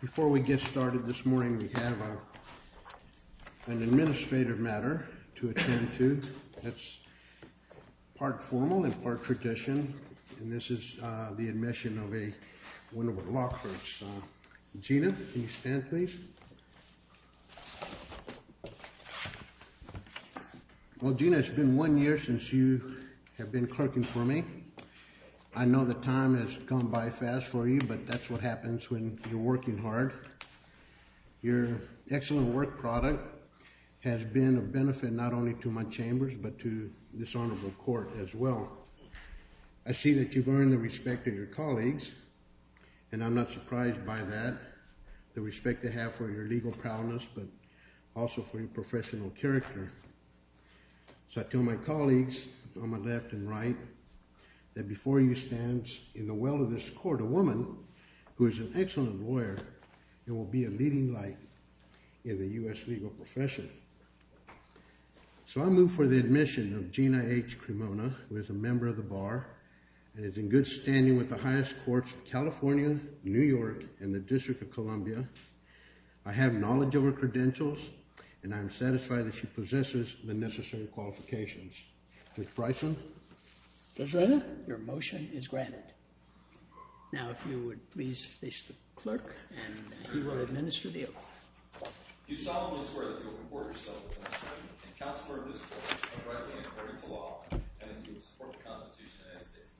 Before we get started, this morning we have an administrative matter to attend to. That's part formal and part tradition. And this is the admission of a one of a Lockhart's. Gina, can you stand please? Well, Gina, it's been one year since you have been clerking for me. I know the time has gone by fast for you, but that's what happens when you're working hard. Your excellent work product has been of benefit not only to my chambers, but to this honorable court as well. I see that you've earned the respect of your colleagues, and I'm not surprised by that. The respect they have for your legal proudness, but also for your professional character. So I tell my colleagues on my left and right that before you stands in the well of this court a woman who is an excellent lawyer and will be a leading light in the U.S. legal profession. So I move for the admission of Gina H. Cremona, who is a member of the Bar and is in good standing with the highest courts of California, New York, and the District of Columbia. I have knowledge of her credentials, and I am satisfied that she possesses the necessary qualifications. Judge Bryson? Judge Reza? Your motion is granted. Now, if you would please face the clerk, and he will administer the oath. You solemnly swear that you will report yourself as an attorney, and counsel for this court, and rightly according to law, and that you will support the Constitution of the United States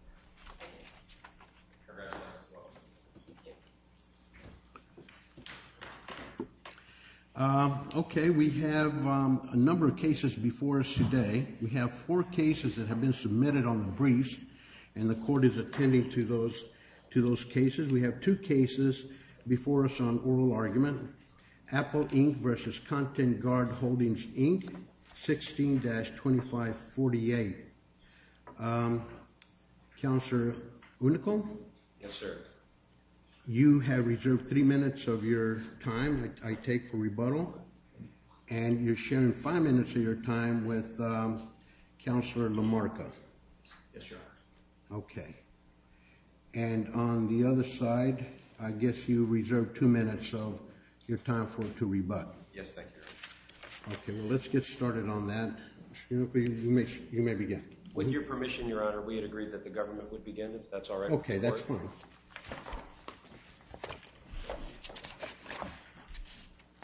of America. I do. Congratulations. You're welcome. Thank you. Okay, we have a number of cases before us today. We have four cases that have been submitted on the briefs, and the court is attending to those cases. We have two cases before us on oral argument. Apple Inc. v. Content Guard Holdings, Inc., 16-2548. Counselor Unico? Yes, sir. You have reserved three minutes of your time, I take for rebuttal, and you're sharing five minutes of your time with Counselor LaMarca. Yes, sir. Okay. And on the other side, I guess you reserved two minutes of your time for it to rebut. Yes, thank you, Your Honor. Okay, well, let's get started on that. You may begin. With your permission, Your Honor, we had agreed that the government would begin, if that's all right with the court. Okay, that's fine.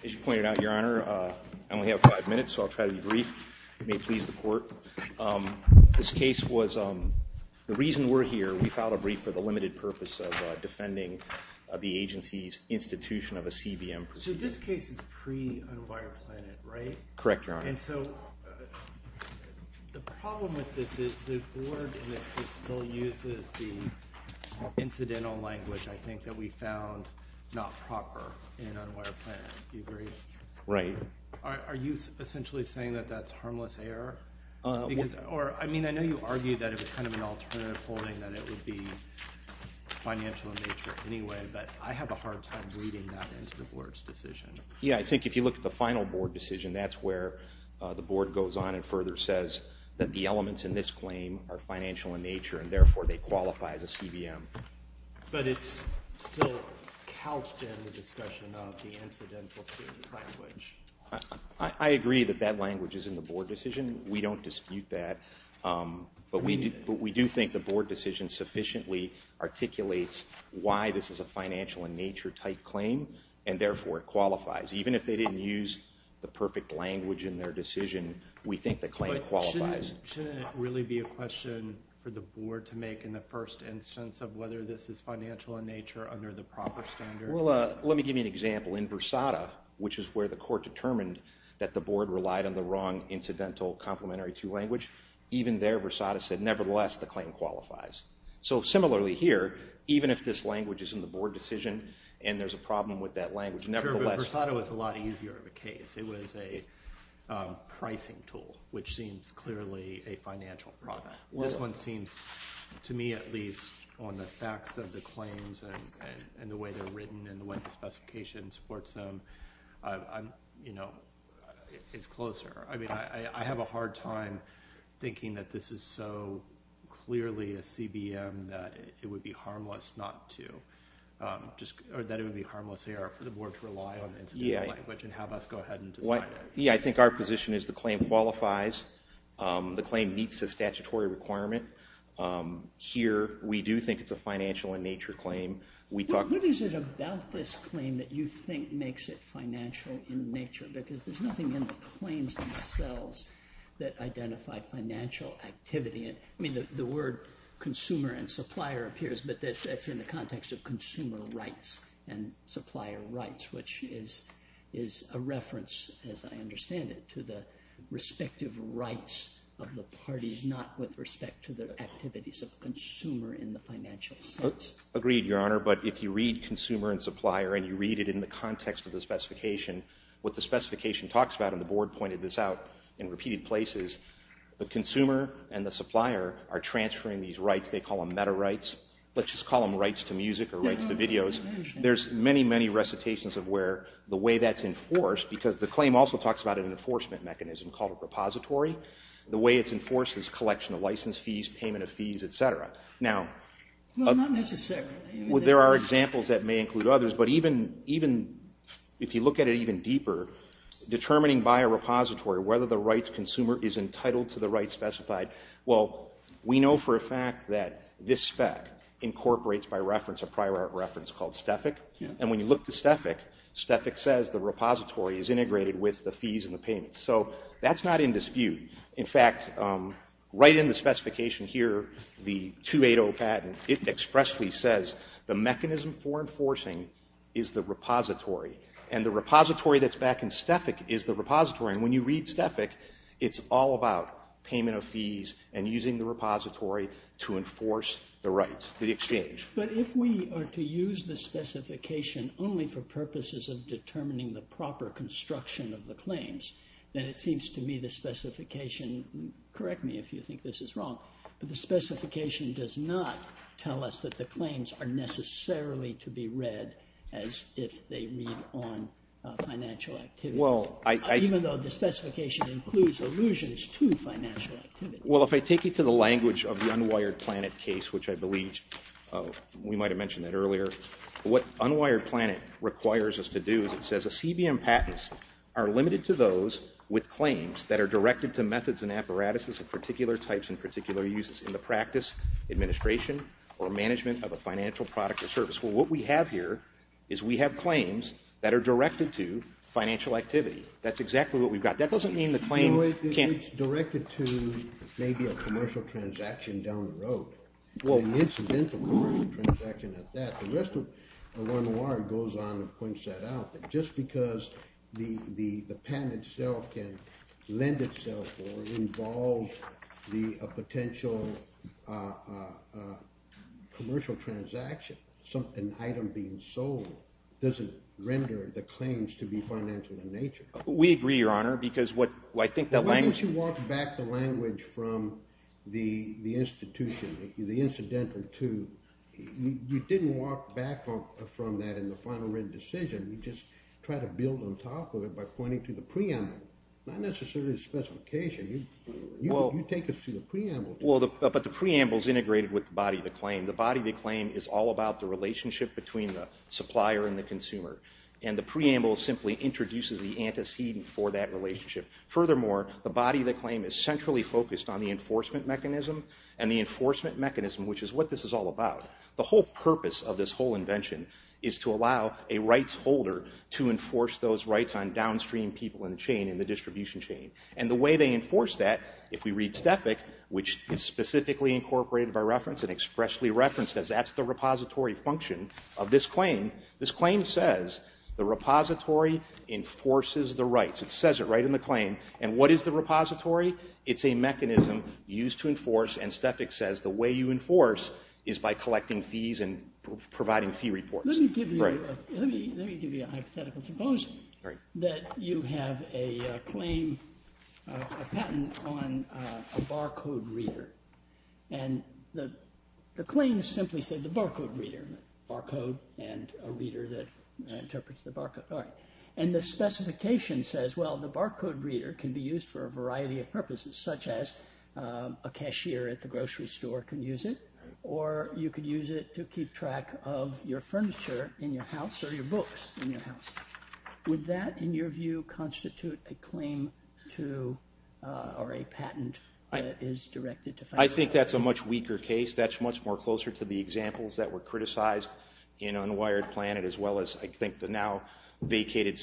As you pointed out, Your Honor, I only have five minutes, so I'll try to be brief. It may please the court. This case was, the reason we're here, we filed a brief for the limited purpose of defending the agency's institution of a CBM. So this case is pre-Unwired Planet, right? Correct, Your Honor. And so the problem with this is the board still uses the incidental language, I think, that we found not proper in Unwired Planet. Do you agree? Right. Are you essentially saying that that's harmless error? I mean, I know you argued that it was kind of an alternative holding, that it would be financial in nature anyway, but I have a hard time reading that into the board's decision. Yeah, I think if you look at the final board decision, that's where the board goes on and further says that the elements in this claim are financial in nature, and therefore they qualify as a CBM. But it's still couched in the discussion of the incidental CBM language. I agree that that language is in the board decision. We don't dispute that, but we do think the board decision sufficiently articulates why this is a financial in nature type claim, and therefore it qualifies. Even if they didn't use the perfect language in their decision, we think the claim qualifies. Shouldn't it really be a question for the board to make in the first instance of whether this is financial in nature under the proper standard? Well, let me give you an example. In Versada, which is where the court determined that the board relied on the wrong incidental complementary to language, even there, Versada said, nevertheless, the claim qualifies. So similarly here, even if this language is in the board decision and there's a problem with that language, nevertheless— This one seems, to me at least, on the facts of the claims and the way they're written and the way the specification supports them, it's closer. I have a hard time thinking that this is so clearly a CBM that it would be harmless for the board to rely on the incidental language and have us go ahead and decide. I think our position is the claim qualifies. The claim meets the statutory requirement. Here, we do think it's a financial in nature claim. What is it about this claim that you think makes it financial in nature? Because there's nothing in the claims themselves that identify financial activity. I mean, the word consumer and supplier appears, but that's in the context of consumer rights and supplier rights, which is a reference, as I understand it, to the respective rights of the parties, not with respect to the activities of the consumer in the financial sense. Agreed, Your Honor. But if you read consumer and supplier and you read it in the context of the specification, what the specification talks about, and the board pointed this out in repeated places, the consumer and the supplier are transferring these rights. They call them meta rights. Let's just call them rights to music or rights to videos. There's many, many recitations of where the way that's enforced, because the claim also talks about an enforcement mechanism called a repository. The way it's enforced is collection of license fees, payment of fees, et cetera. Now, there are examples that may include others, but even if you look at it even deeper, determining by a repository whether the rights consumer is entitled to the rights specified, well, we know for a fact that this spec incorporates by reference a prior art reference called STFIC. And when you look to STFIC, STFIC says the repository is integrated with the fees and the payments. So that's not in dispute. In fact, right in the specification here, the 280 patent, it expressly says the mechanism for enforcing is the repository, and the repository that's back in STFIC is the repository. And when you read STFIC, it's all about payment of fees and using the repository to enforce the rights, the exchange. But if we are to use the specification only for purposes of determining the proper construction of the claims, then it seems to me the specification, correct me if you think this is wrong, but the specification does not tell us that the claims are necessarily to be read as if they read on financial activity, even though the specification includes allusions to financial activity. Well, if I take you to the language of the unwired planet case, which I believe we might have mentioned that earlier, what unwired planet requires us to do is it says a CBM patents are limited to those with claims that are directed to methods and apparatuses of particular types and particular uses in the practice, administration, or management of a financial product or service. Well, what we have here is we have claims that are directed to financial activity. That's exactly what we've got. That doesn't mean the claim can't It's directed to maybe a commercial transaction down the road. An incidental commercial transaction at that. The rest of the unwired goes on and points that out that just because the patent itself can lend itself or involve a potential commercial transaction, an item being sold, doesn't render the claims to be financial in nature. We agree, Your Honor, because what I think that language Why don't you walk back the language from the institution, the incidental to You didn't walk back from that in the final written decision. You just tried to build on top of it by pointing to the preamble. Not necessarily the specification. You take us to the preamble. Well, but the preamble is integrated with the body of the claim. The body of the claim is all about the relationship between the supplier and the Furthermore, the body of the claim is centrally focused on the enforcement mechanism and the enforcement mechanism, which is what this is all about. The whole purpose of this whole invention is to allow a rights holder to enforce those rights on downstream people in the chain, in the distribution chain. And the way they enforce that, if we read Stefik, which is specifically incorporated by reference and expressly referenced as that's the repository function of this claim, this claim says the repository enforces the rights. It says it right in the claim. And what is the repository? It's a mechanism used to enforce. And Stefik says the way you enforce is by collecting fees and providing fee reports. Let me give you a hypothetical. Suppose that you have a claim, a patent on a barcode reader. And the claims simply say the barcode reader, barcode and a reader that interprets the barcode. And the specification says, well, the barcode reader can be used for a variety of purposes, such as a cashier at the grocery store can use it, or you could use it to keep track of your furniture in your house or your books in your house. Would that, in your view, constitute a claim to or a patent that is directed to financial activity? I think that's a much weaker case. That's much more closer to the examples that were criticized in Unwired Planet, as well as I think the now vacated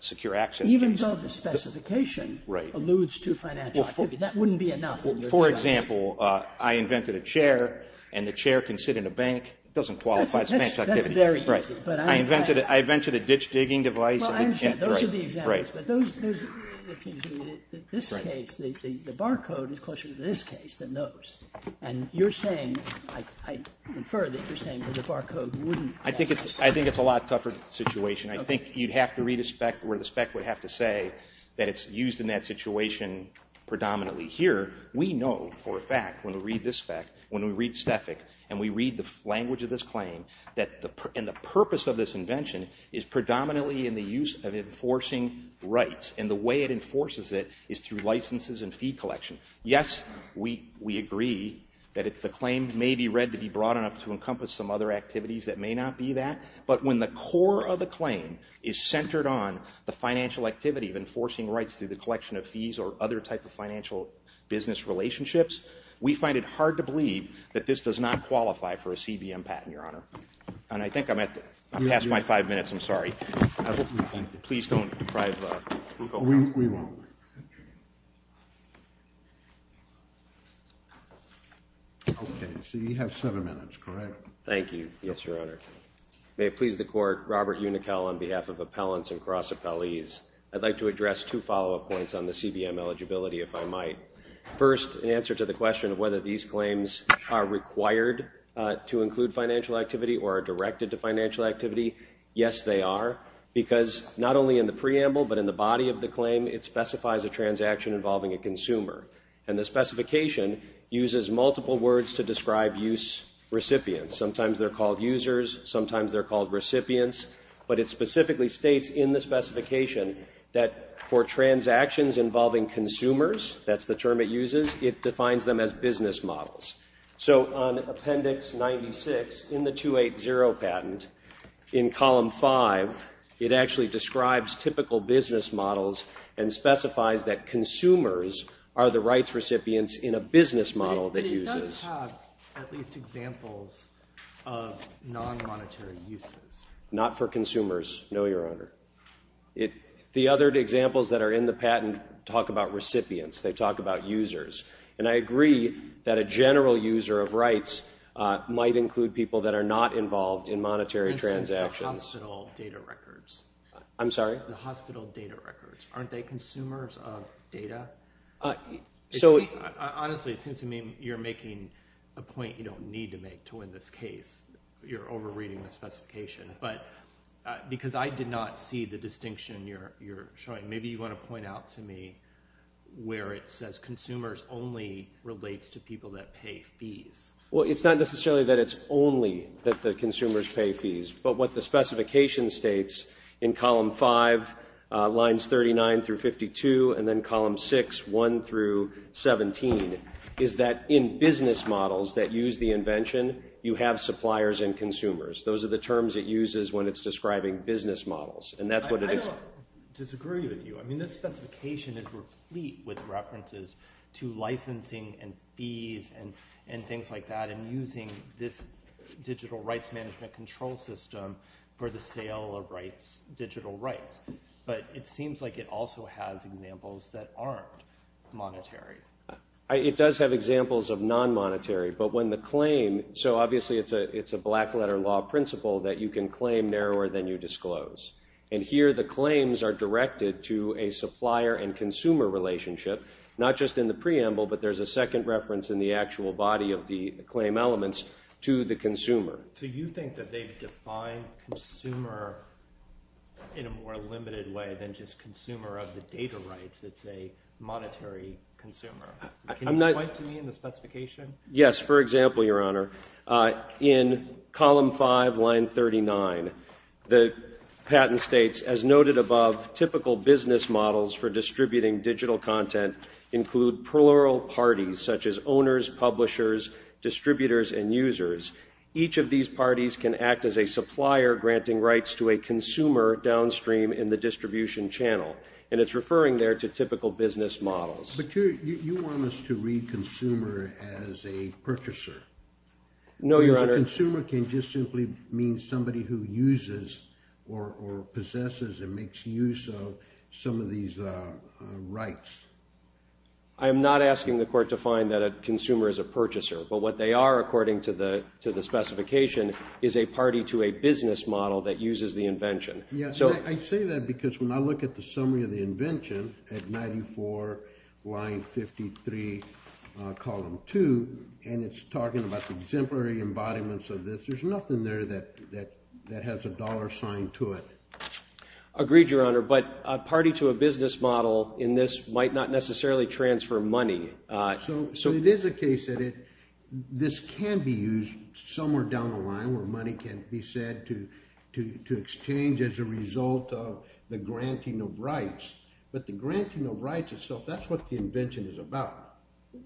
Secure Access case. Even though the specification alludes to financial activity. That wouldn't be enough. For example, I invented a chair, and the chair can sit in a bank. It doesn't qualify as financial activity. That's very easy. I invented a ditch-digging device. Well, I'm sure those are the examples. But those, it seems to me that this case, the barcode is closer to this case than those. And you're saying, I infer that you're saying that the barcode wouldn't. I think it's a lot tougher situation. I think you'd have to read a spec where the spec would have to say that it's used in that situation predominantly. Here, we know for a fact when we read this spec, when we read Stefik, and we read the language of this claim, and the purpose of this invention is predominantly in the use of enforcing rights. And the way it enforces it is through licenses and fee collection. Yes, we agree that the claim may be read to be broad enough to encompass some other activities that may not be that. But when the core of the claim is centered on the financial activity of enforcing rights through the collection of fees or other type of financial business relationships, we find it hard to believe that this does not qualify for a CBM patent, Your Honor. And I think I'm past my five minutes. I'm sorry. Please don't deprive us. We won't. Okay, so you have seven minutes, correct? Thank you. Yes, Your Honor. May it please the Court, Robert Uniquel on behalf of appellants and cross-appellees. I'd like to address two follow-up points on the CBM eligibility, if I might. First, an answer to the question of whether these claims are required to include financial activity or are directed to financial activity. Yes, they are, because not only in the preamble but in the body of the claim, it specifies a transaction involving a consumer. And the specification uses multiple words to describe use recipients. Sometimes they're called users. Sometimes they're called recipients. But it specifically states in the specification that for transactions involving consumers, that's the term it uses, it defines them as business models. So on Appendix 96 in the 280 patent, in Column 5, it actually describes typical business models and specifies that consumers are the rights recipients in a business model that uses. But it does have at least examples of non-monetary uses. Not for consumers, no, Your Honor. The other examples that are in the patent talk about recipients. They talk about users. And I agree that a general user of rights might include people that are not involved in monetary transactions. The hospital data records. I'm sorry? The hospital data records. Aren't they consumers of data? Honestly, it seems to me you're making a point you don't need to make to win this case. You're over-reading the specification. Because I did not see the distinction you're showing. Maybe you want to point out to me where it says consumers only relates to people that pay fees. Well, it's not necessarily that it's only that the consumers pay fees. But what the specification states in Column 5, Lines 39 through 52, and then Column 6, 1 through 17, is that in business models that use the invention, you have suppliers and consumers. Those are the terms it uses when it's describing business models. And that's what it is. I don't disagree with you. I mean, this specification is replete with references to licensing and fees and things like that and using this digital rights management control system for the sale of rights, digital rights. But it seems like it also has examples that aren't monetary. It does have examples of non-monetary. So obviously it's a black-letter law principle that you can claim narrower than you disclose. And here the claims are directed to a supplier and consumer relationship, not just in the preamble, but there's a second reference in the actual body of the claim elements to the consumer. So you think that they've defined consumer in a more limited way than just consumer of the data rights. It's a monetary consumer. Can you point to me in the specification? Yes. For example, Your Honor, in Column 5, Line 39, the patent states, as noted above, typical business models for distributing digital content include plural parties, such as owners, publishers, distributors, and users. Each of these parties can act as a supplier granting rights to a consumer downstream in the distribution channel. And it's referring there to typical business models. But you want us to read consumer as a purchaser. No, Your Honor. Because a consumer can just simply mean somebody who uses or possesses and makes use of some of these rights. I am not asking the court to find that a consumer is a purchaser. But what they are, according to the specification, is a party to a business model that uses the invention. Yes. I say that because when I look at the summary of the invention at 94, Line 53, Column 2, and it's talking about the exemplary embodiments of this, there's nothing there that has a dollar sign to it. Agreed, Your Honor. But a party to a business model in this might not necessarily transfer money. So it is a case that this can be used somewhere down the line where money can be said to exchange as a result of the granting of rights. But the granting of rights itself, that's what the invention is about.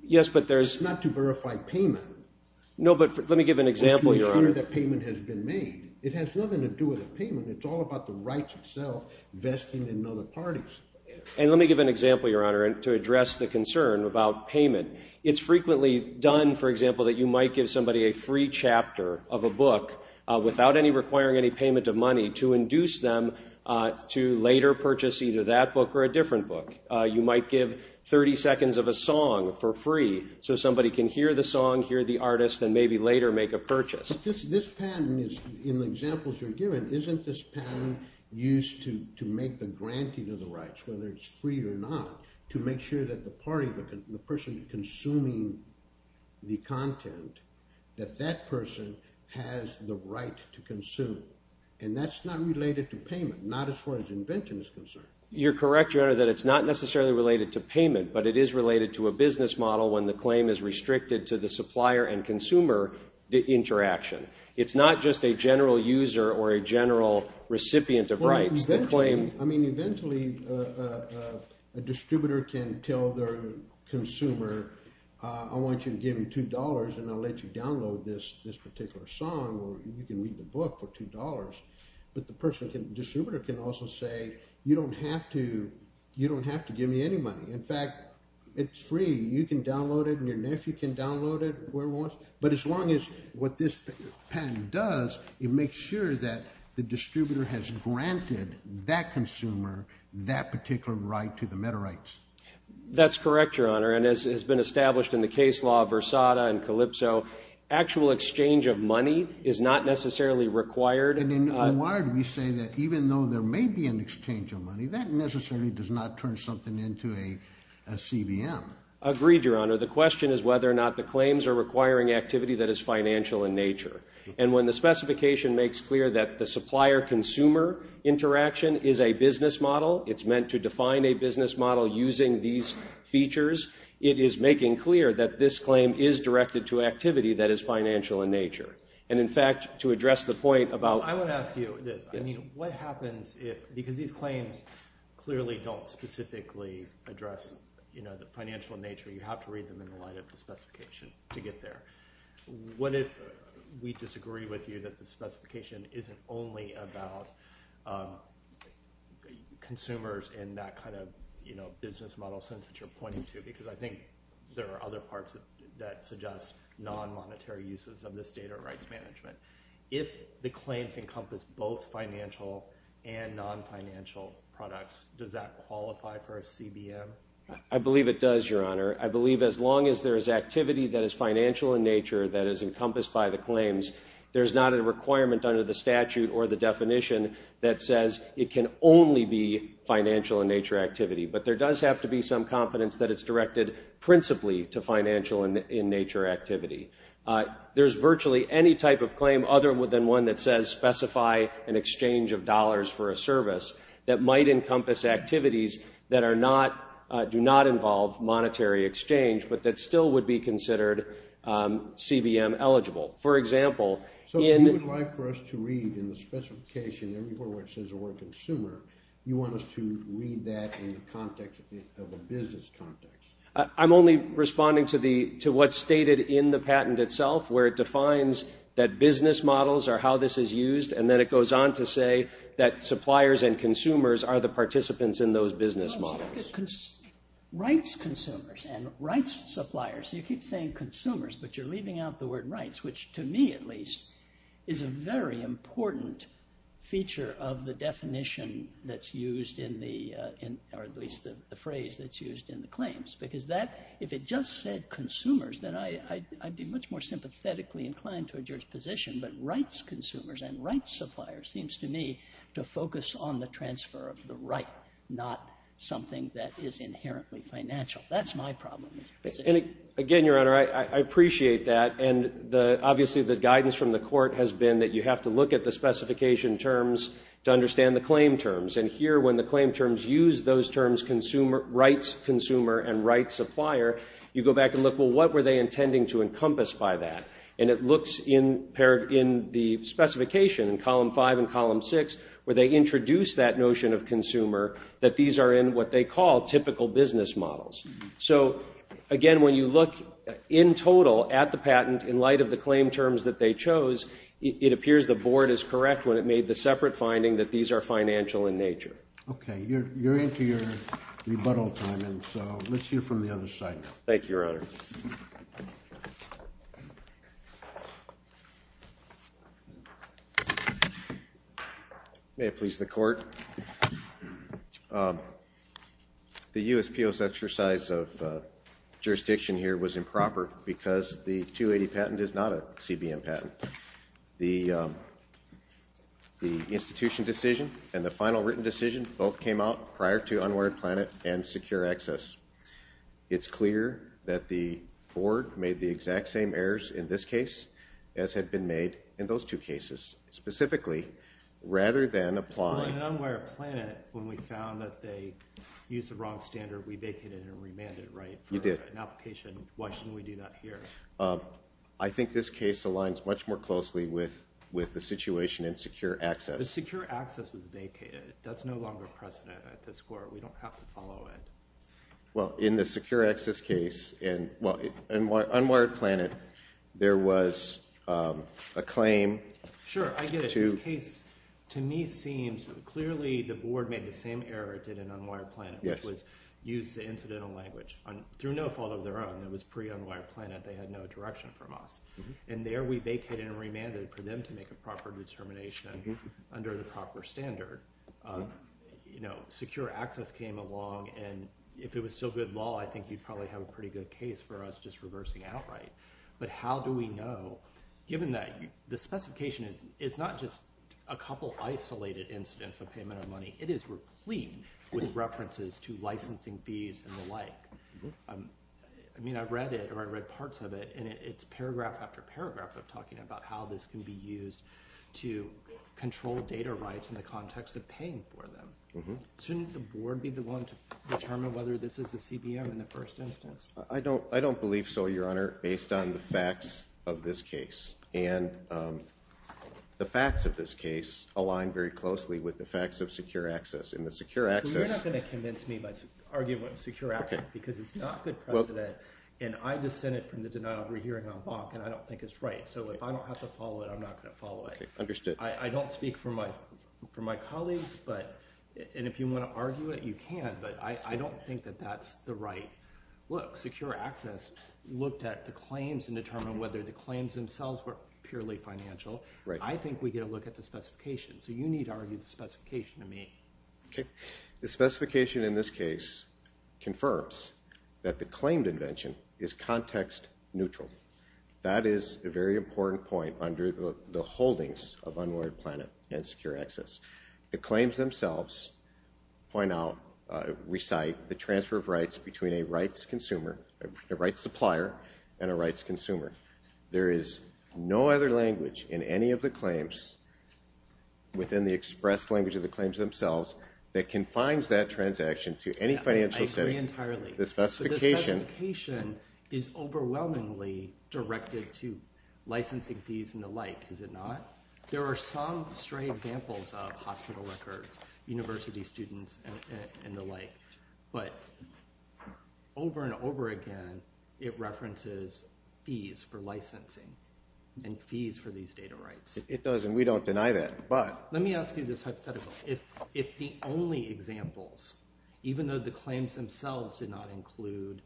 Yes, but there's— It's not to verify payment. No, but let me give an example, Your Honor. Or to assure that payment has been made. It has nothing to do with the payment. It's all about the rights itself vesting in other parties. And let me give an example, Your Honor, to address the concern about payment. It's frequently done, for example, that you might give somebody a free chapter of a book without requiring any payment of money to induce them to later purchase either that book or a different book. You might give 30 seconds of a song for free so somebody can hear the song, hear the artist, and maybe later make a purchase. But this pattern is—in the examples you're giving, isn't this pattern used to make the granting of the rights, whether it's free or not, to make sure that the party, the person consuming the content, that that person has the right to consume? And that's not related to payment, not as far as invention is concerned. You're correct, Your Honor, that it's not necessarily related to payment, but it is related to a business model when the claim is restricted to the supplier and consumer interaction. It's not just a general user or a general recipient of rights. I mean, eventually a distributor can tell their consumer, I want you to give me $2 and I'll let you download this particular song, or you can read the book for $2. But the person, the distributor can also say, you don't have to give me any money. In fact, it's free. You can download it and your nephew can download it wherever he wants. But as long as what this pattern does, it makes sure that the distributor has granted that consumer that particular right to the metarights. That's correct, Your Honor. And as has been established in the case law of Versada and Calypso, actual exchange of money is not necessarily required. And in O.R. we say that even though there may be an exchange of money, that necessarily does not turn something into a CBM. Agreed, Your Honor. The question is whether or not the claims are requiring activity that is financial in nature. And when the specification makes clear that the supplier-consumer interaction is a business model, it's meant to define a business model using these features, it is making clear that this claim is directed to activity that is financial in nature. And, in fact, to address the point about – I want to ask you this. What happens if – because these claims clearly don't specifically address the financial in nature. You have to read them in the light of the specification to get there. What if we disagree with you that the specification isn't only about consumers in that kind of business model sense that you're pointing to? Because I think there are other parts that suggest non-monetary uses of this data rights management. If the claims encompass both financial and non-financial products, does that qualify for a CBM? I believe it does, Your Honor. I believe as long as there is activity that is financial in nature that is encompassed by the claims, there's not a requirement under the statute or the definition that says it can only be financial in nature activity. But there does have to be some confidence that it's directed principally to financial in nature activity. There's virtually any type of claim other than one that says specify an exchange of dollars for a service that might encompass activities that are not – do not involve monetary exchange, but that still would be considered CBM eligible. For example, in – I'm only responding to what's stated in the patent itself where it defines that business models are how this is used, and then it goes on to say that suppliers and consumers are the participants in those business models. Rights consumers and rights suppliers. You keep saying consumers, but you're leaving out the word rights, which to me at least is a very important feature of the definition that's used in the – or at least the phrase that's used in the claims. Because that – if it just said consumers, then I'd be much more sympathetically inclined towards your position. But rights consumers and rights suppliers seems to me to focus on the transfer of the right, not something that is inherently financial. That's my problem with your position. Again, Your Honor, I appreciate that. And obviously the guidance from the court has been that you have to look at the specification terms to understand the claim terms. And here when the claim terms use those terms rights consumer and rights supplier, you go back and look, well, what were they intending to encompass by that? And it looks in the specification in column 5 and column 6 where they introduce that notion of consumer that these are in what they call typical business models. So, again, when you look in total at the patent in light of the claim terms that they chose, it appears the board is correct when it made the separate finding that these are financial in nature. Okay. You're into your rebuttal time, and so let's hear from the other side now. Thank you, Your Honor. May it please the court. The USPO's exercise of jurisdiction here was improper because the 280 patent is not a CBM patent. The institution decision and the final written decision both came out prior to unwarranted plan and secure access. It's clear that the board made the exact same errors in this case as had been made in those two cases. Specifically, rather than applying- On unwarranted plan, when we found that they used the wrong standard, we vacated and remanded, right? You did. An application, why shouldn't we do that here? I think this case aligns much more closely with the situation in secure access. The secure access was vacated. That's no longer a precedent at this court. We don't have to follow it. Well, in the secure access case, in unwarranted plan, there was a claim- Sure, I get it. This case, to me, seems clearly the board made the same error it did in unwarranted plan, which was use the incidental language. Through no fault of their own, it was pre-unwarranted plan, and they had no direction from us. And there we vacated and remanded for them to make a proper determination under the proper standard. Secure access came along, and if it was still good law, I think you'd probably have a pretty good case for us just reversing outright. But how do we know, given that the specification is not just a couple isolated incidents of payment of money. It is replete with references to licensing fees and the like. I mean, I've read it, or I've read parts of it, and it's paragraph after paragraph of talking about how this can be used to control data rights in the context of paying for them. Shouldn't the board be the one to determine whether this is a CBM in the first instance? I don't believe so, Your Honor, based on the facts of this case. And the facts of this case align very closely with the facts of secure access. In the secure access – Well, you're not going to convince me by arguing what is secure access because it's not good precedent, and I dissented from the denial of re-hearing on Bach, and I don't think it's right. So if I don't have to follow it, I'm not going to follow it. Okay, understood. I don't speak for my colleagues, and if you want to argue it, you can. But I don't think that that's the right look. Secure access looked at the claims and determined whether the claims themselves were purely financial. I think we get to look at the specification. So you need to argue the specification to me. Okay. The specification in this case confirms that the claimed invention is context neutral. That is a very important point under the holdings of Unwarried Planet and secure access. The claims themselves point out, recite the transfer of rights between a rights consumer, a rights supplier, and a rights consumer. There is no other language in any of the claims within the express language of the claims themselves that confines that transaction to any financial setting. I agree entirely. The specification – The specification is overwhelmingly directed to licensing fees and the like, is it not? There are some stray examples of hospital records, university students, and the like. But over and over again, it references fees for licensing and fees for these data rights. It does, and we don't deny that. But – Let me ask you this hypothetical. If the only examples, even though the claims themselves did not include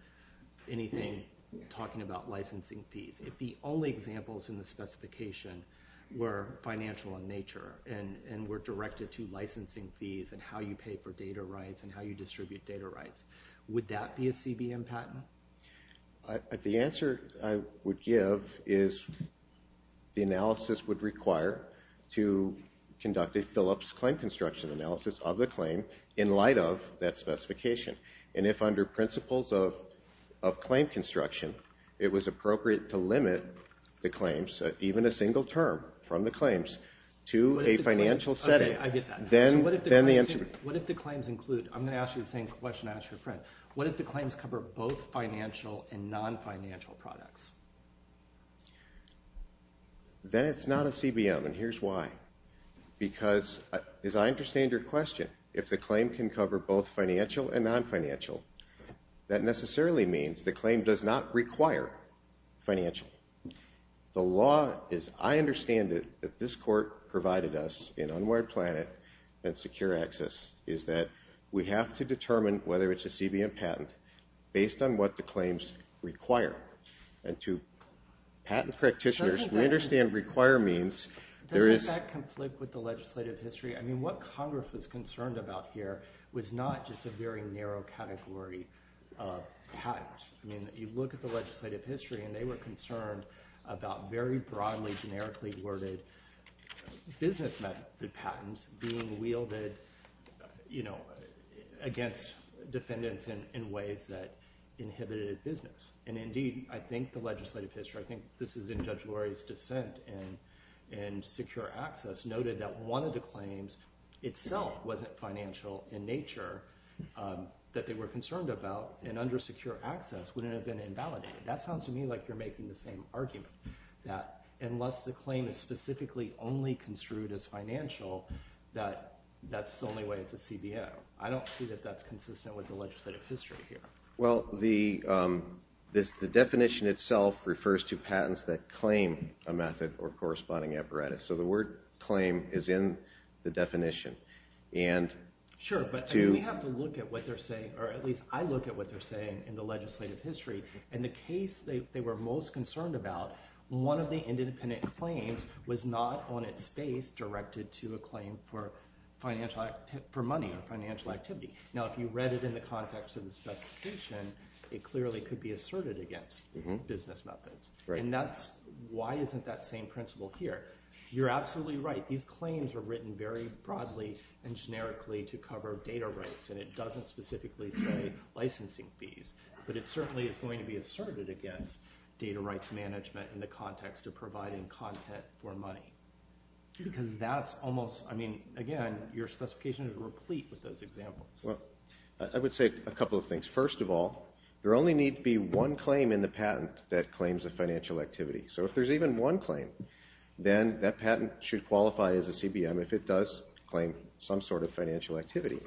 anything talking about licensing fees, if the only examples in the specification were financial in nature and were directed to licensing fees and how you pay for data rights and how you distribute data rights, would that be a CBM patent? The answer I would give is the analysis would require to conduct a Phillips claim construction analysis of the claim in light of that specification. And if under principles of claim construction, it was appropriate to limit the claims, even a single term from the claims, to a financial setting – Okay, I get that. What if the claims include – I'm going to ask you the same question I asked your friend. What if the claims cover both financial and non-financial products? Then it's not a CBM, and here's why. Because, as I understand your question, if the claim can cover both financial and non-financial, that necessarily means the claim does not require financial. The law, as I understand it, that this court provided us in Unwired Planet and Secure Access, is that we have to determine whether it's a CBM patent based on what the claims require. And to patent practitioners, we understand require means there is – Can I flip with the legislative history? I mean, what Congress was concerned about here was not just a very narrow category of patents. I mean, you look at the legislative history, and they were concerned about very broadly, generically worded business method patents being wielded against defendants in ways that inhibited business. And indeed, I think the legislative history – and I think this is in Judge Lurie's dissent in Secure Access – noted that one of the claims itself wasn't financial in nature that they were concerned about, and under Secure Access wouldn't have been invalidated. That sounds to me like you're making the same argument, that unless the claim is specifically only construed as financial, that that's the only way it's a CBM. I don't see that that's consistent with the legislative history here. Well, the definition itself refers to patents that claim a method or corresponding apparatus. So the word claim is in the definition. Sure, but we have to look at what they're saying, or at least I look at what they're saying in the legislative history. In the case they were most concerned about, one of the independent claims was not on its face directed to a claim for money or financial activity. Now, if you read it in the context of the specification, it clearly could be asserted against business methods. And that's – why isn't that same principle here? You're absolutely right. These claims are written very broadly and generically to cover data rights, and it doesn't specifically say licensing fees, but it certainly is going to be asserted against data rights management in the context of providing content for money. Because that's almost – I mean, again, your specification is replete with those examples. Well, I would say a couple of things. First of all, there only needs to be one claim in the patent that claims a financial activity. So if there's even one claim, then that patent should qualify as a CBM if it does claim some sort of financial activity.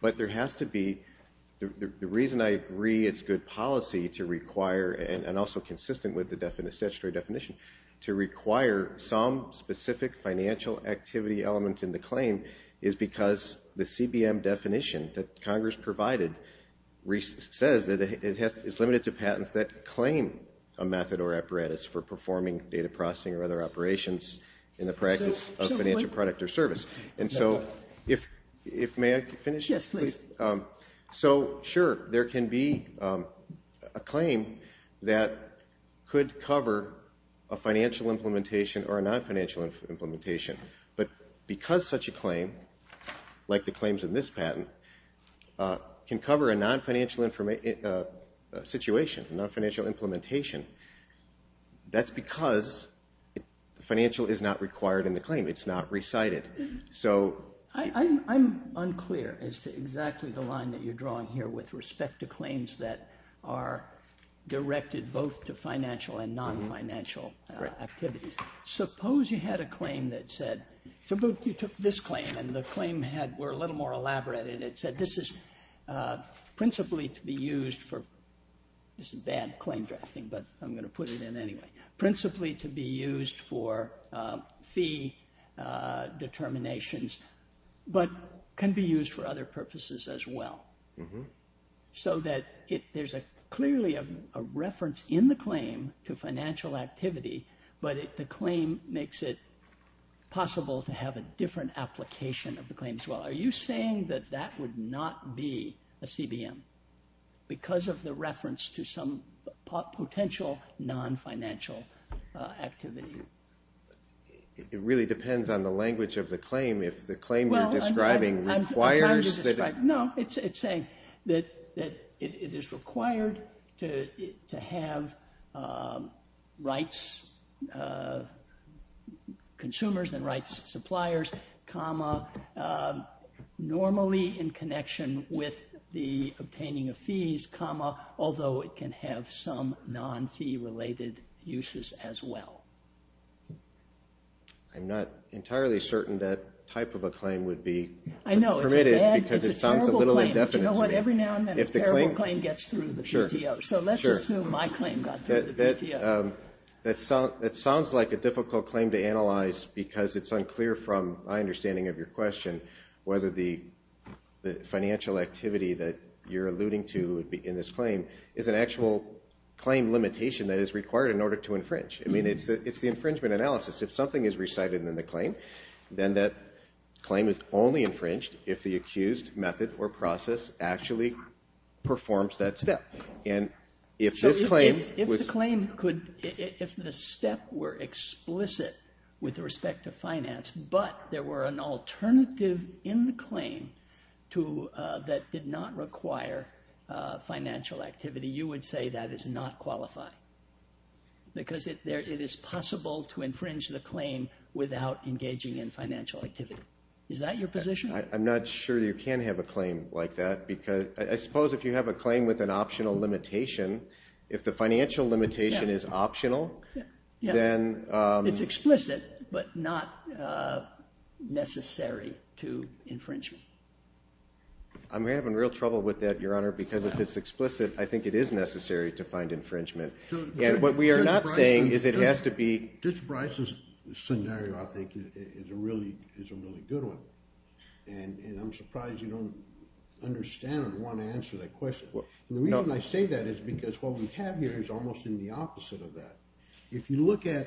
But there has to be – the reason I agree it's good policy to require, and also consistent with the statutory definition, to require some specific financial activity element in the claim is because the CBM definition that Congress provided says that it's limited to patents that claim a method or apparatus for performing data processing or other operations in the practice of financial product or service. And so if – may I finish? Yes, please. So, sure, there can be a claim that could cover a financial implementation or a non-financial implementation. But because such a claim, like the claims in this patent, can cover a non-financial situation, a non-financial implementation, that's because financial is not required in the claim. It's not recited. I'm unclear as to exactly the line that you're drawing here with respect to claims that are directed both to financial and non-financial activities. Suppose you had a claim that said – suppose you took this claim and the claim were a little more elaborate and it said this is principally to be used for – this is bad claim drafting, but I'm going to put it in anyway – determinations, but can be used for other purposes as well. So that there's clearly a reference in the claim to financial activity, but the claim makes it possible to have a different application of the claim as well. Are you saying that that would not be a CBM because of the reference to some potential non-financial activity? It really depends on the language of the claim. If the claim you're describing requires – No, it's saying that it is required to have rights, consumers and rights suppliers, normally in connection with the obtaining of fees, although it can have some non-fee related uses as well. I'm not entirely certain that type of a claim would be permitted because it sounds a little indefinite to me. You know what? Every now and then a terrible claim gets through the PTO. So let's assume my claim got through the PTO. That sounds like a difficult claim to analyze because it's unclear from my understanding of your question whether the financial activity that you're alluding to in this claim is an actual claim limitation that is required in order to infringe. I mean, it's the infringement analysis. If something is recited in the claim, then that claim is only infringed if the accused method or process actually performs that step. If the step were explicit with respect to finance but there were an alternative in the claim that did not require financial activity, you would say that is not qualified because it is possible to infringe the claim without engaging in financial activity. Is that your position? I'm not sure you can have a claim like that because I suppose if you have a claim with an optional limitation, if the financial limitation is optional, then... It's explicit but not necessary to infringe. I'm having real trouble with that, Your Honor, because if it's explicit, I think it is necessary to find infringement. And what we are not saying is it has to be... And I'm surprised you don't understand or want to answer that question. The reason I say that is because what we have here is almost in the opposite of that. If you look at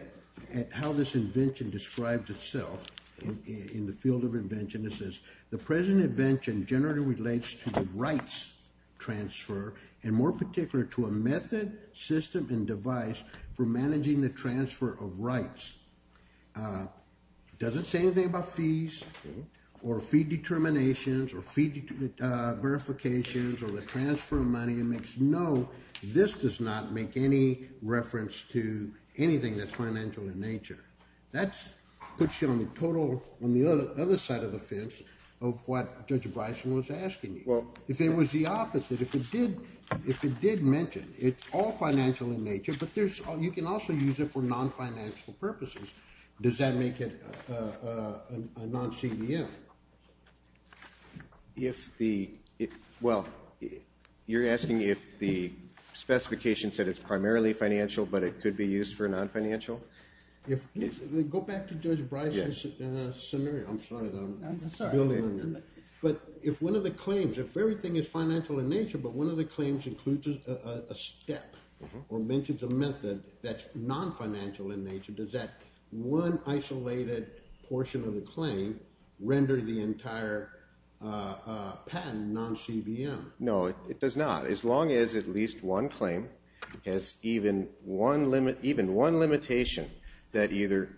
how this invention describes itself in the field of invention, it says the present invention generally relates to the rights transfer and more particular to a method, system, and device for managing the transfer of rights. It doesn't say anything about fees or fee determinations or fee verifications or the transfer of money. No, this does not make any reference to anything that's financial in nature. That puts you on the other side of the fence of what Judge Bryson was asking you. If it was the opposite, if it did mention it's all financial in nature, you can also use it for non-financial purposes. Does that make it a non-CDM? You're asking if the specification said it's primarily financial, but it could be used for non-financial? Go back to Judge Bryson's scenario. I'm sorry, though. I'm sorry. But if one of the claims, if everything is financial in nature, but one of the claims includes a step or mentions a method that's non-financial in nature, does that one isolated portion of the claim render the entire patent non-CBM? No, it does not. As long as at least one claim has even one limitation that either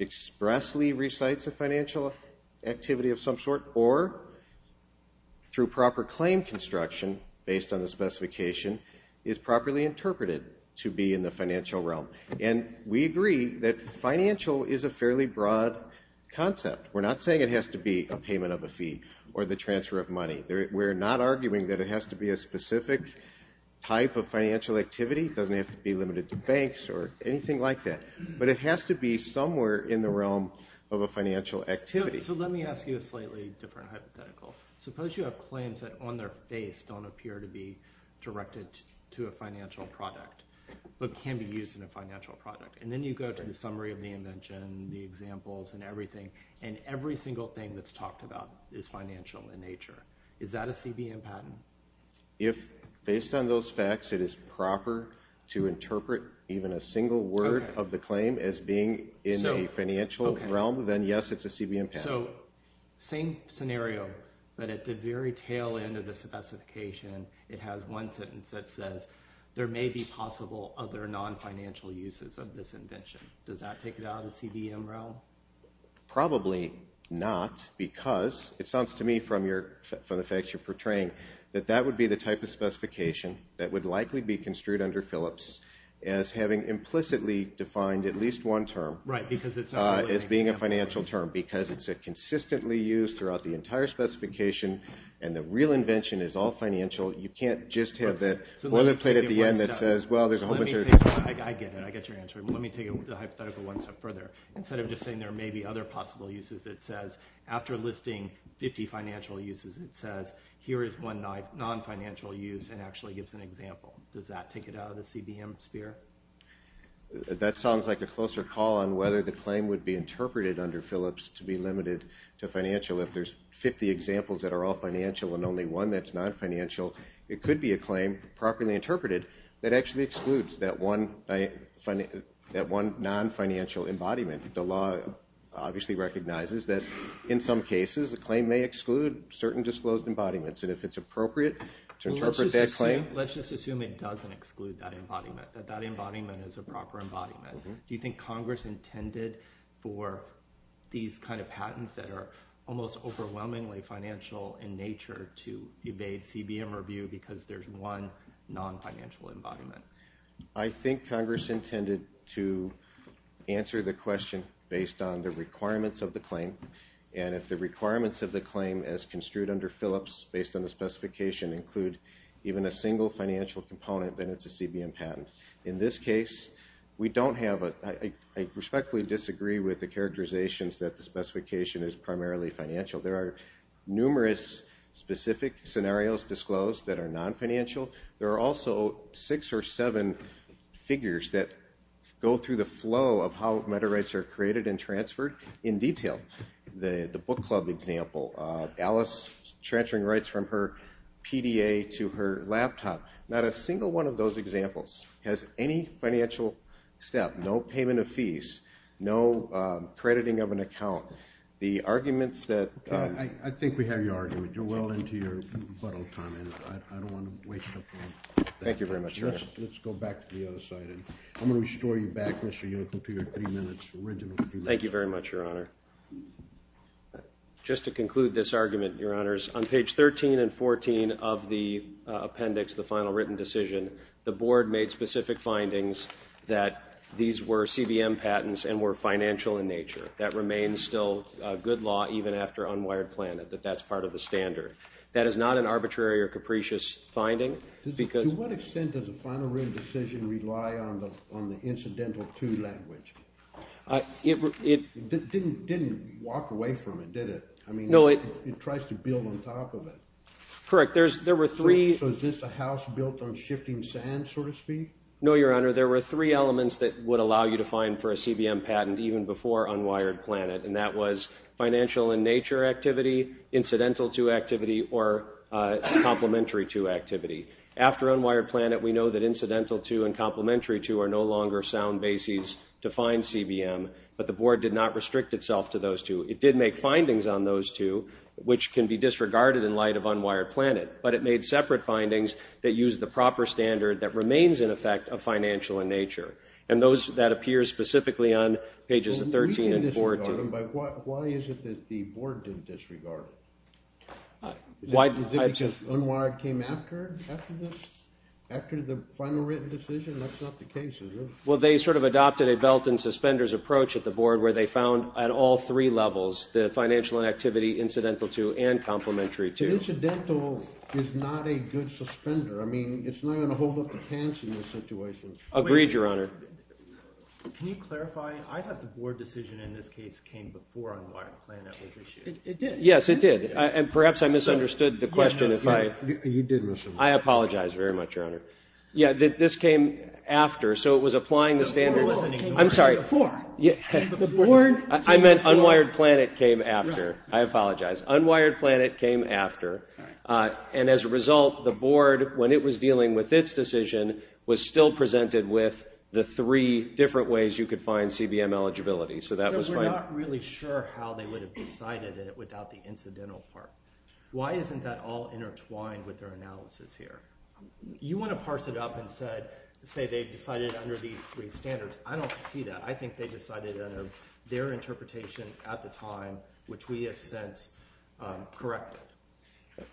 expressly recites a financial activity of some sort or through proper claim construction, based on the specification, is properly interpreted to be in the financial realm. And we agree that financial is a fairly broad concept. We're not saying it has to be a payment of a fee or the transfer of money. We're not arguing that it has to be a specific type of financial activity. It doesn't have to be limited to banks or anything like that. But it has to be somewhere in the realm of a financial activity. So let me ask you a slightly different hypothetical. Suppose you have claims that on their face don't appear to be directed to a financial product but can be used in a financial product. And then you go to the summary of the invention, the examples, and everything, and every single thing that's talked about is financial in nature. Is that a CBM patent? If, based on those facts, it is proper to interpret even a single word of the claim as being in a financial realm, then, yes, it's a CBM patent. So same scenario, but at the very tail end of the specification, it has one sentence that says, there may be possible other non-financial uses of this invention. Does that take it out of the CBM realm? Probably not because it sounds to me from the facts you're portraying that that would be the type of specification that would likely be construed under Phillips as having implicitly defined at least one term as being a financial term because it's consistently used throughout the entire specification, and the real invention is all financial. You can't just have that boilerplate at the end that says, well, there's a whole bunch of— I get it. I get your answer. Let me take the hypothetical one step further. Instead of just saying there may be other possible uses, it says, after listing 50 financial uses, it says, here is one non-financial use and actually gives an example. Does that take it out of the CBM sphere? That sounds like a closer call on whether the claim would be interpreted under Phillips to be limited to financial. If there's 50 examples that are all financial and only one that's non-financial, it could be a claim, properly interpreted, that actually excludes that one non-financial embodiment. The law obviously recognizes that in some cases, a claim may exclude certain disclosed embodiments, and if it's appropriate to interpret that claim— Let's just assume it doesn't exclude that embodiment, that that embodiment is a proper embodiment. Do you think Congress intended for these kind of patents that are almost overwhelmingly financial in nature to evade CBM review because there's one non-financial embodiment? I think Congress intended to answer the question based on the requirements of the claim, and if the requirements of the claim as construed under Phillips based on the specification include even a single financial component, then it's a CBM patent. In this case, we don't have a— I respectfully disagree with the characterizations that the specification is primarily financial. There are numerous specific scenarios disclosed that are non-financial. There are also six or seven figures that go through the flow of how meta-rights are created and transferred in detail. The book club example, Alice transferring rights from her PDA to her laptop, not a single one of those examples has any financial step, no payment of fees, no crediting of an account. The arguments that— I think we have your argument. You're well into your buttock time, and I don't want to waste your time. Thank you very much, Your Honor. Let's go back to the other side. I'm going to restore you back, Mr. Yocum, to your three minutes, original three minutes. Thank you very much, Your Honor. Just to conclude this argument, Your Honors, on page 13 and 14 of the appendix, the final written decision, the board made specific findings that these were CBM patents and were financial in nature. That remains still good law even after unwired planet, that that's part of the standard. That is not an arbitrary or capricious finding because— To what extent does a final written decision rely on the incidental to language? It didn't walk away from it, did it? I mean, it tries to build on top of it. Correct. There were three— So is this a house built on shifting sand, so to speak? No, Your Honor. There were three elements that would allow you to find for a CBM patent even before unwired planet, and that was financial in nature activity, incidental to activity, or complementary to activity. After unwired planet, we know that incidental to and complementary to are no longer sound bases to find CBM, but the board did not restrict itself to those two. It did make findings on those two, which can be disregarded in light of unwired planet, but it made separate findings that use the proper standard that remains, in effect, of financial in nature. And that appears specifically on pages 13 and 14. Why is it that the board didn't disregard it? Is it because unwired came after this, after the final written decision? That's not the case, is it? Well, they sort of adopted a belt and suspenders approach at the board where they found at all three levels the financial inactivity, incidental to, and complementary to. Incidental is not a good suspender. I mean, it's not going to hold up the pants in this situation. Agreed, Your Honor. Can you clarify? I thought the board decision in this case came before unwired planet was issued. It did. Yes, it did, and perhaps I misunderstood the question. You did misunderstand. I apologize very much, Your Honor. Yeah, this came after, so it was applying the standard. The board wasn't ignoring it before. I meant unwired planet came after. I apologize. Unwired planet came after, and as a result, the board, when it was dealing with its decision, was still presented with the three different ways you could find CBM eligibility, so that was fine. I'm not really sure how they would have decided it without the incidental part. Why isn't that all intertwined with their analysis here? You want to parse it up and say they decided under these three standards. I don't see that. I think they decided under their interpretation at the time, which we have since corrected.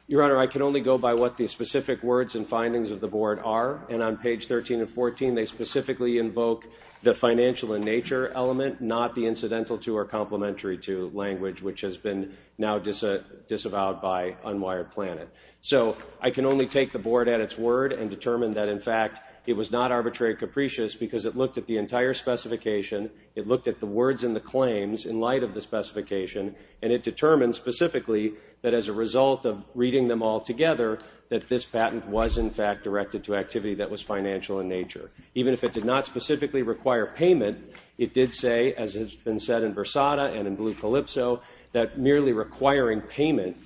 Your Honor, I can only go by what the specific words and findings of the board are, and on page 13 and 14, they specifically invoke the financial and nature element, not the incidental to or complementary to language, which has been now disavowed by unwired planet. So I can only take the board at its word and determine that, in fact, it was not arbitrary capricious because it looked at the entire specification. It looked at the words and the claims in light of the specification, and it determined specifically that as a result of reading them all together, that this patent was, in fact, directed to activity that was financial in nature. Even if it did not specifically require payment, it did say, as has been said in Versada and in Blue Calypso, that merely requiring payment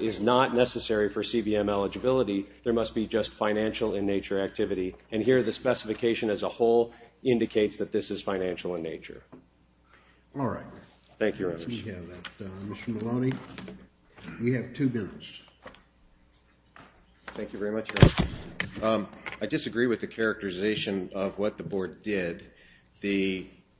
is not necessary for CBM eligibility. There must be just financial in nature activity, and here the specification as a whole indicates that this is financial in nature. All right. Thank you, Your Honor. We have that, Mr. Maloney. We have two bills. Thank you very much, Your Honor. I disagree with the characterization of what the board did.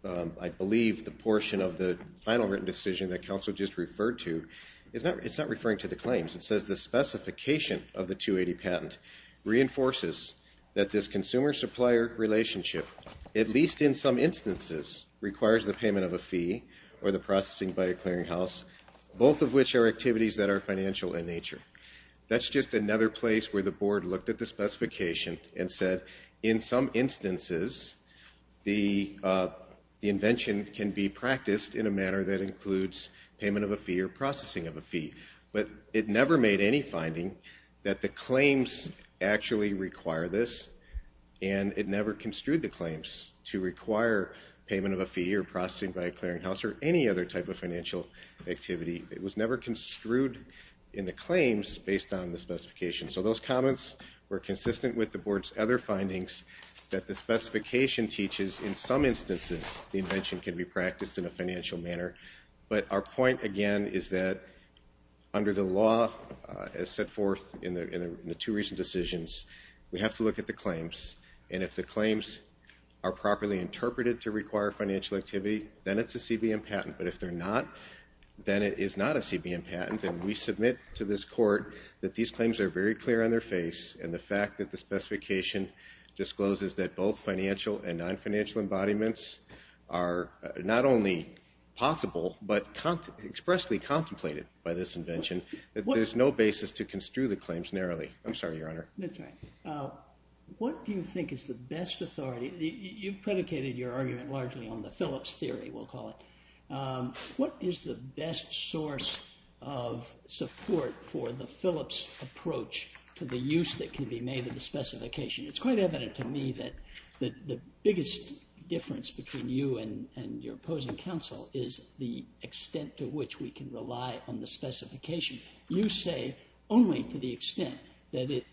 I believe the portion of the final written decision that counsel just referred to, it's not referring to the claims. It says the specification of the 280 patent reinforces that this consumer-supplier relationship, at least in some instances, requires the payment of a fee or the processing by a clearinghouse, both of which are activities that are financial in nature. That's just another place where the board looked at the specification and said, in some instances, the invention can be practiced in a manner that includes payment of a fee or processing of a fee. But it never made any finding that the claims actually require this, and it never construed the claims to require payment of a fee or processing by a clearinghouse or any other type of financial activity. It was never construed in the claims based on the specification. So those comments were consistent with the board's other findings that the specification teaches, in some instances, the invention can be practiced in a financial manner. But our point, again, is that under the law, as set forth in the two recent decisions, we have to look at the claims, and if the claims are properly interpreted to require financial activity, then it's a CBM patent. But if they're not, then it is not a CBM patent. And we submit to this court that these claims are very clear on their face, and the fact that the specification discloses that both financial and non-financial embodiments are not only possible but expressly contemplated by this invention, that there's no basis to construe the claims narrowly. I'm sorry, Your Honor. That's all right. What do you think is the best authority? You've predicated your argument largely on the Phillips theory, we'll call it. What is the best source of support for the Phillips approach to the use that can be made of the specification? It's quite evident to me that the biggest difference between you and your opposing counsel is the extent to which we can rely on the specification. You say only to the extent that it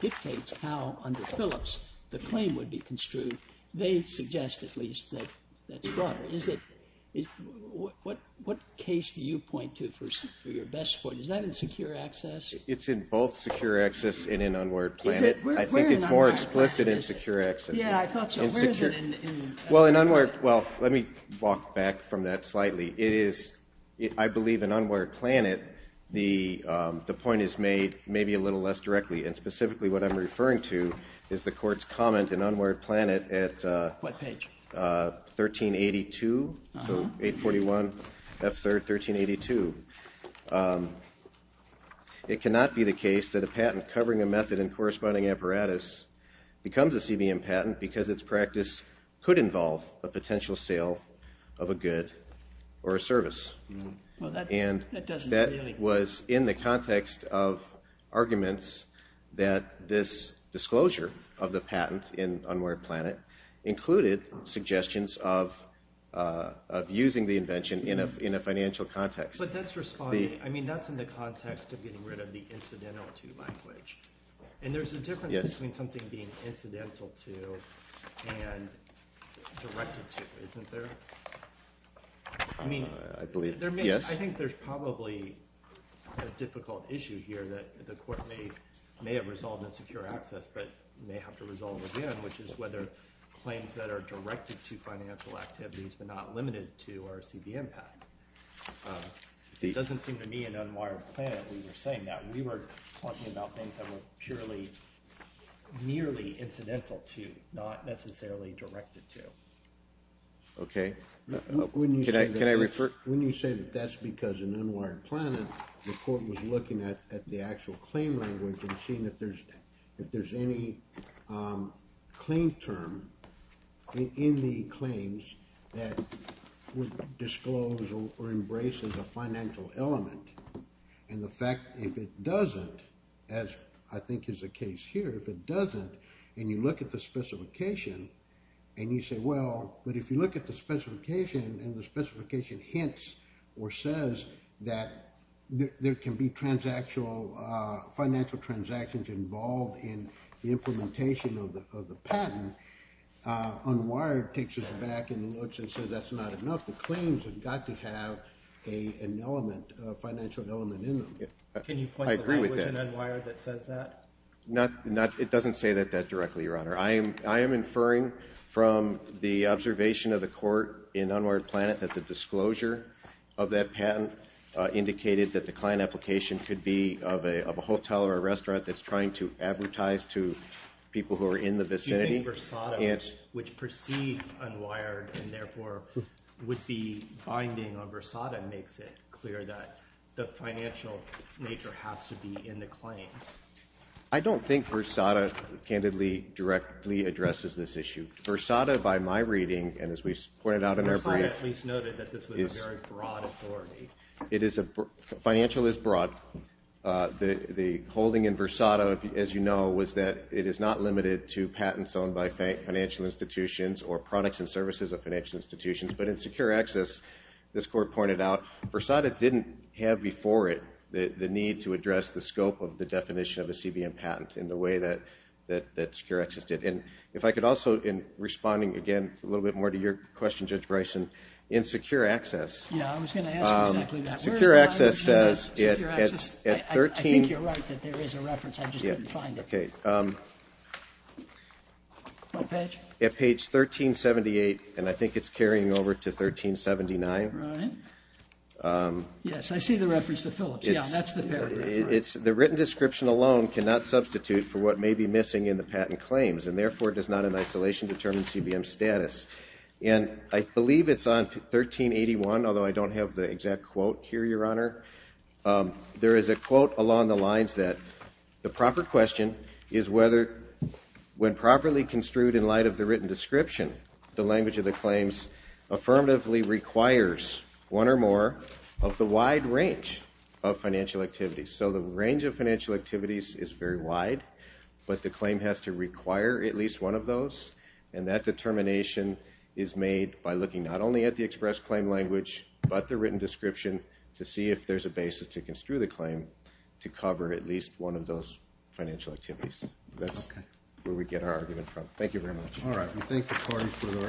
dictates how under Phillips the claim would be construed. They suggest at least that that's broader. What case do you point to for your best support? Is that in Secure Access? It's in both Secure Access and in Unwared Planet. I think it's more explicit in Secure Access. Yeah, I thought so. Where is it in Unwared Planet? Well, let me walk back from that slightly. I believe in Unwared Planet the point is made maybe a little less directly, and specifically what I'm referring to is the Court's comment in Unwared Planet at 1382, so 841 F3rd 1382. It cannot be the case that a patent covering a method in corresponding apparatus becomes a CBM patent because its practice could involve a potential sale of a good or a service. Well, that doesn't really. And that was in the context of arguments that this disclosure of the patent in Unwared Planet included suggestions of using the invention in a financial context. But that's responding, I mean that's in the context of getting rid of the incidental to language. And there's a difference between something being incidental to and directed to, isn't there? I believe, yes. I think there's probably a difficult issue here that the Court may have resolved in Secure Access but may have to resolve again, which is whether claims that are directed to financial activities but not limited to are a CBM patent. It doesn't seem to me in Unwired Planet we were saying that. We were talking about things that were purely, nearly incidental to, not necessarily directed to. Okay. Can I refer? When you say that that's because in Unwired Planet the Court was looking at the actual claim language and seeing if there's any claim term in the claims that would disclose or embrace as a financial element and the fact if it doesn't, as I think is the case here, if it doesn't and you look at the specification and you say, well, but if you look at the specification and the specification hints or says that there can be financial transactions involved in the implementation of the patent, Unwired takes us back and looks and says that's not enough. The claims have got to have an element, a financial element in them. Can you point to language in Unwired that says that? It doesn't say that directly, Your Honor. I am inferring from the observation of the Court in Unwired Planet that the disclosure of that patent indicated that the client application could be of a hotel or a restaurant that's trying to advertise to people who are in the vicinity. Which precedes Unwired and therefore would be binding on Versada makes it clear that the financial nature has to be in the claims. I don't think Versada candidly directly addresses this issue. Versada by my reading and as we pointed out in our brief. Versada at least noted that this was a very broad authority. Financial is broad. The holding in Versada as you know was that it is not limited to patents owned by financial institutions or products and services of financial institutions. But in Secure Access this Court pointed out Versada didn't have before it the need to address the scope of the definition of a CBM patent in the way that Secure Access did. And if I could also in responding again a little bit more to your question, Judge Bryson, in Secure Access. Yeah, I was going to ask exactly that. Secure Access says at 13. I think you're right that there is a reference. I just couldn't find it. Okay. What page? At page 1378 and I think it's carrying over to 1379. Right. Yes, I see the reference to Phillips. Yeah, that's the paragraph. It's the written description alone cannot substitute for what may be missing in the patent claims and therefore does not in isolation determine CBM status. And I believe it's on 1381, although I don't have the exact quote here, Your Honor. There is a quote along the lines that the proper question is whether when properly construed in light of the written description, the language of the claims affirmatively requires one or more of the wide range of financial activities. So the range of financial activities is very wide, but the claim has to require at least one of those and that determination is made by looking not only at the express claim language, but the written description to see if there's a basis to construe the claim to cover at least one of those financial activities. That's where we get our argument from. Thank you very much. All right. We thank the Court for the arguments.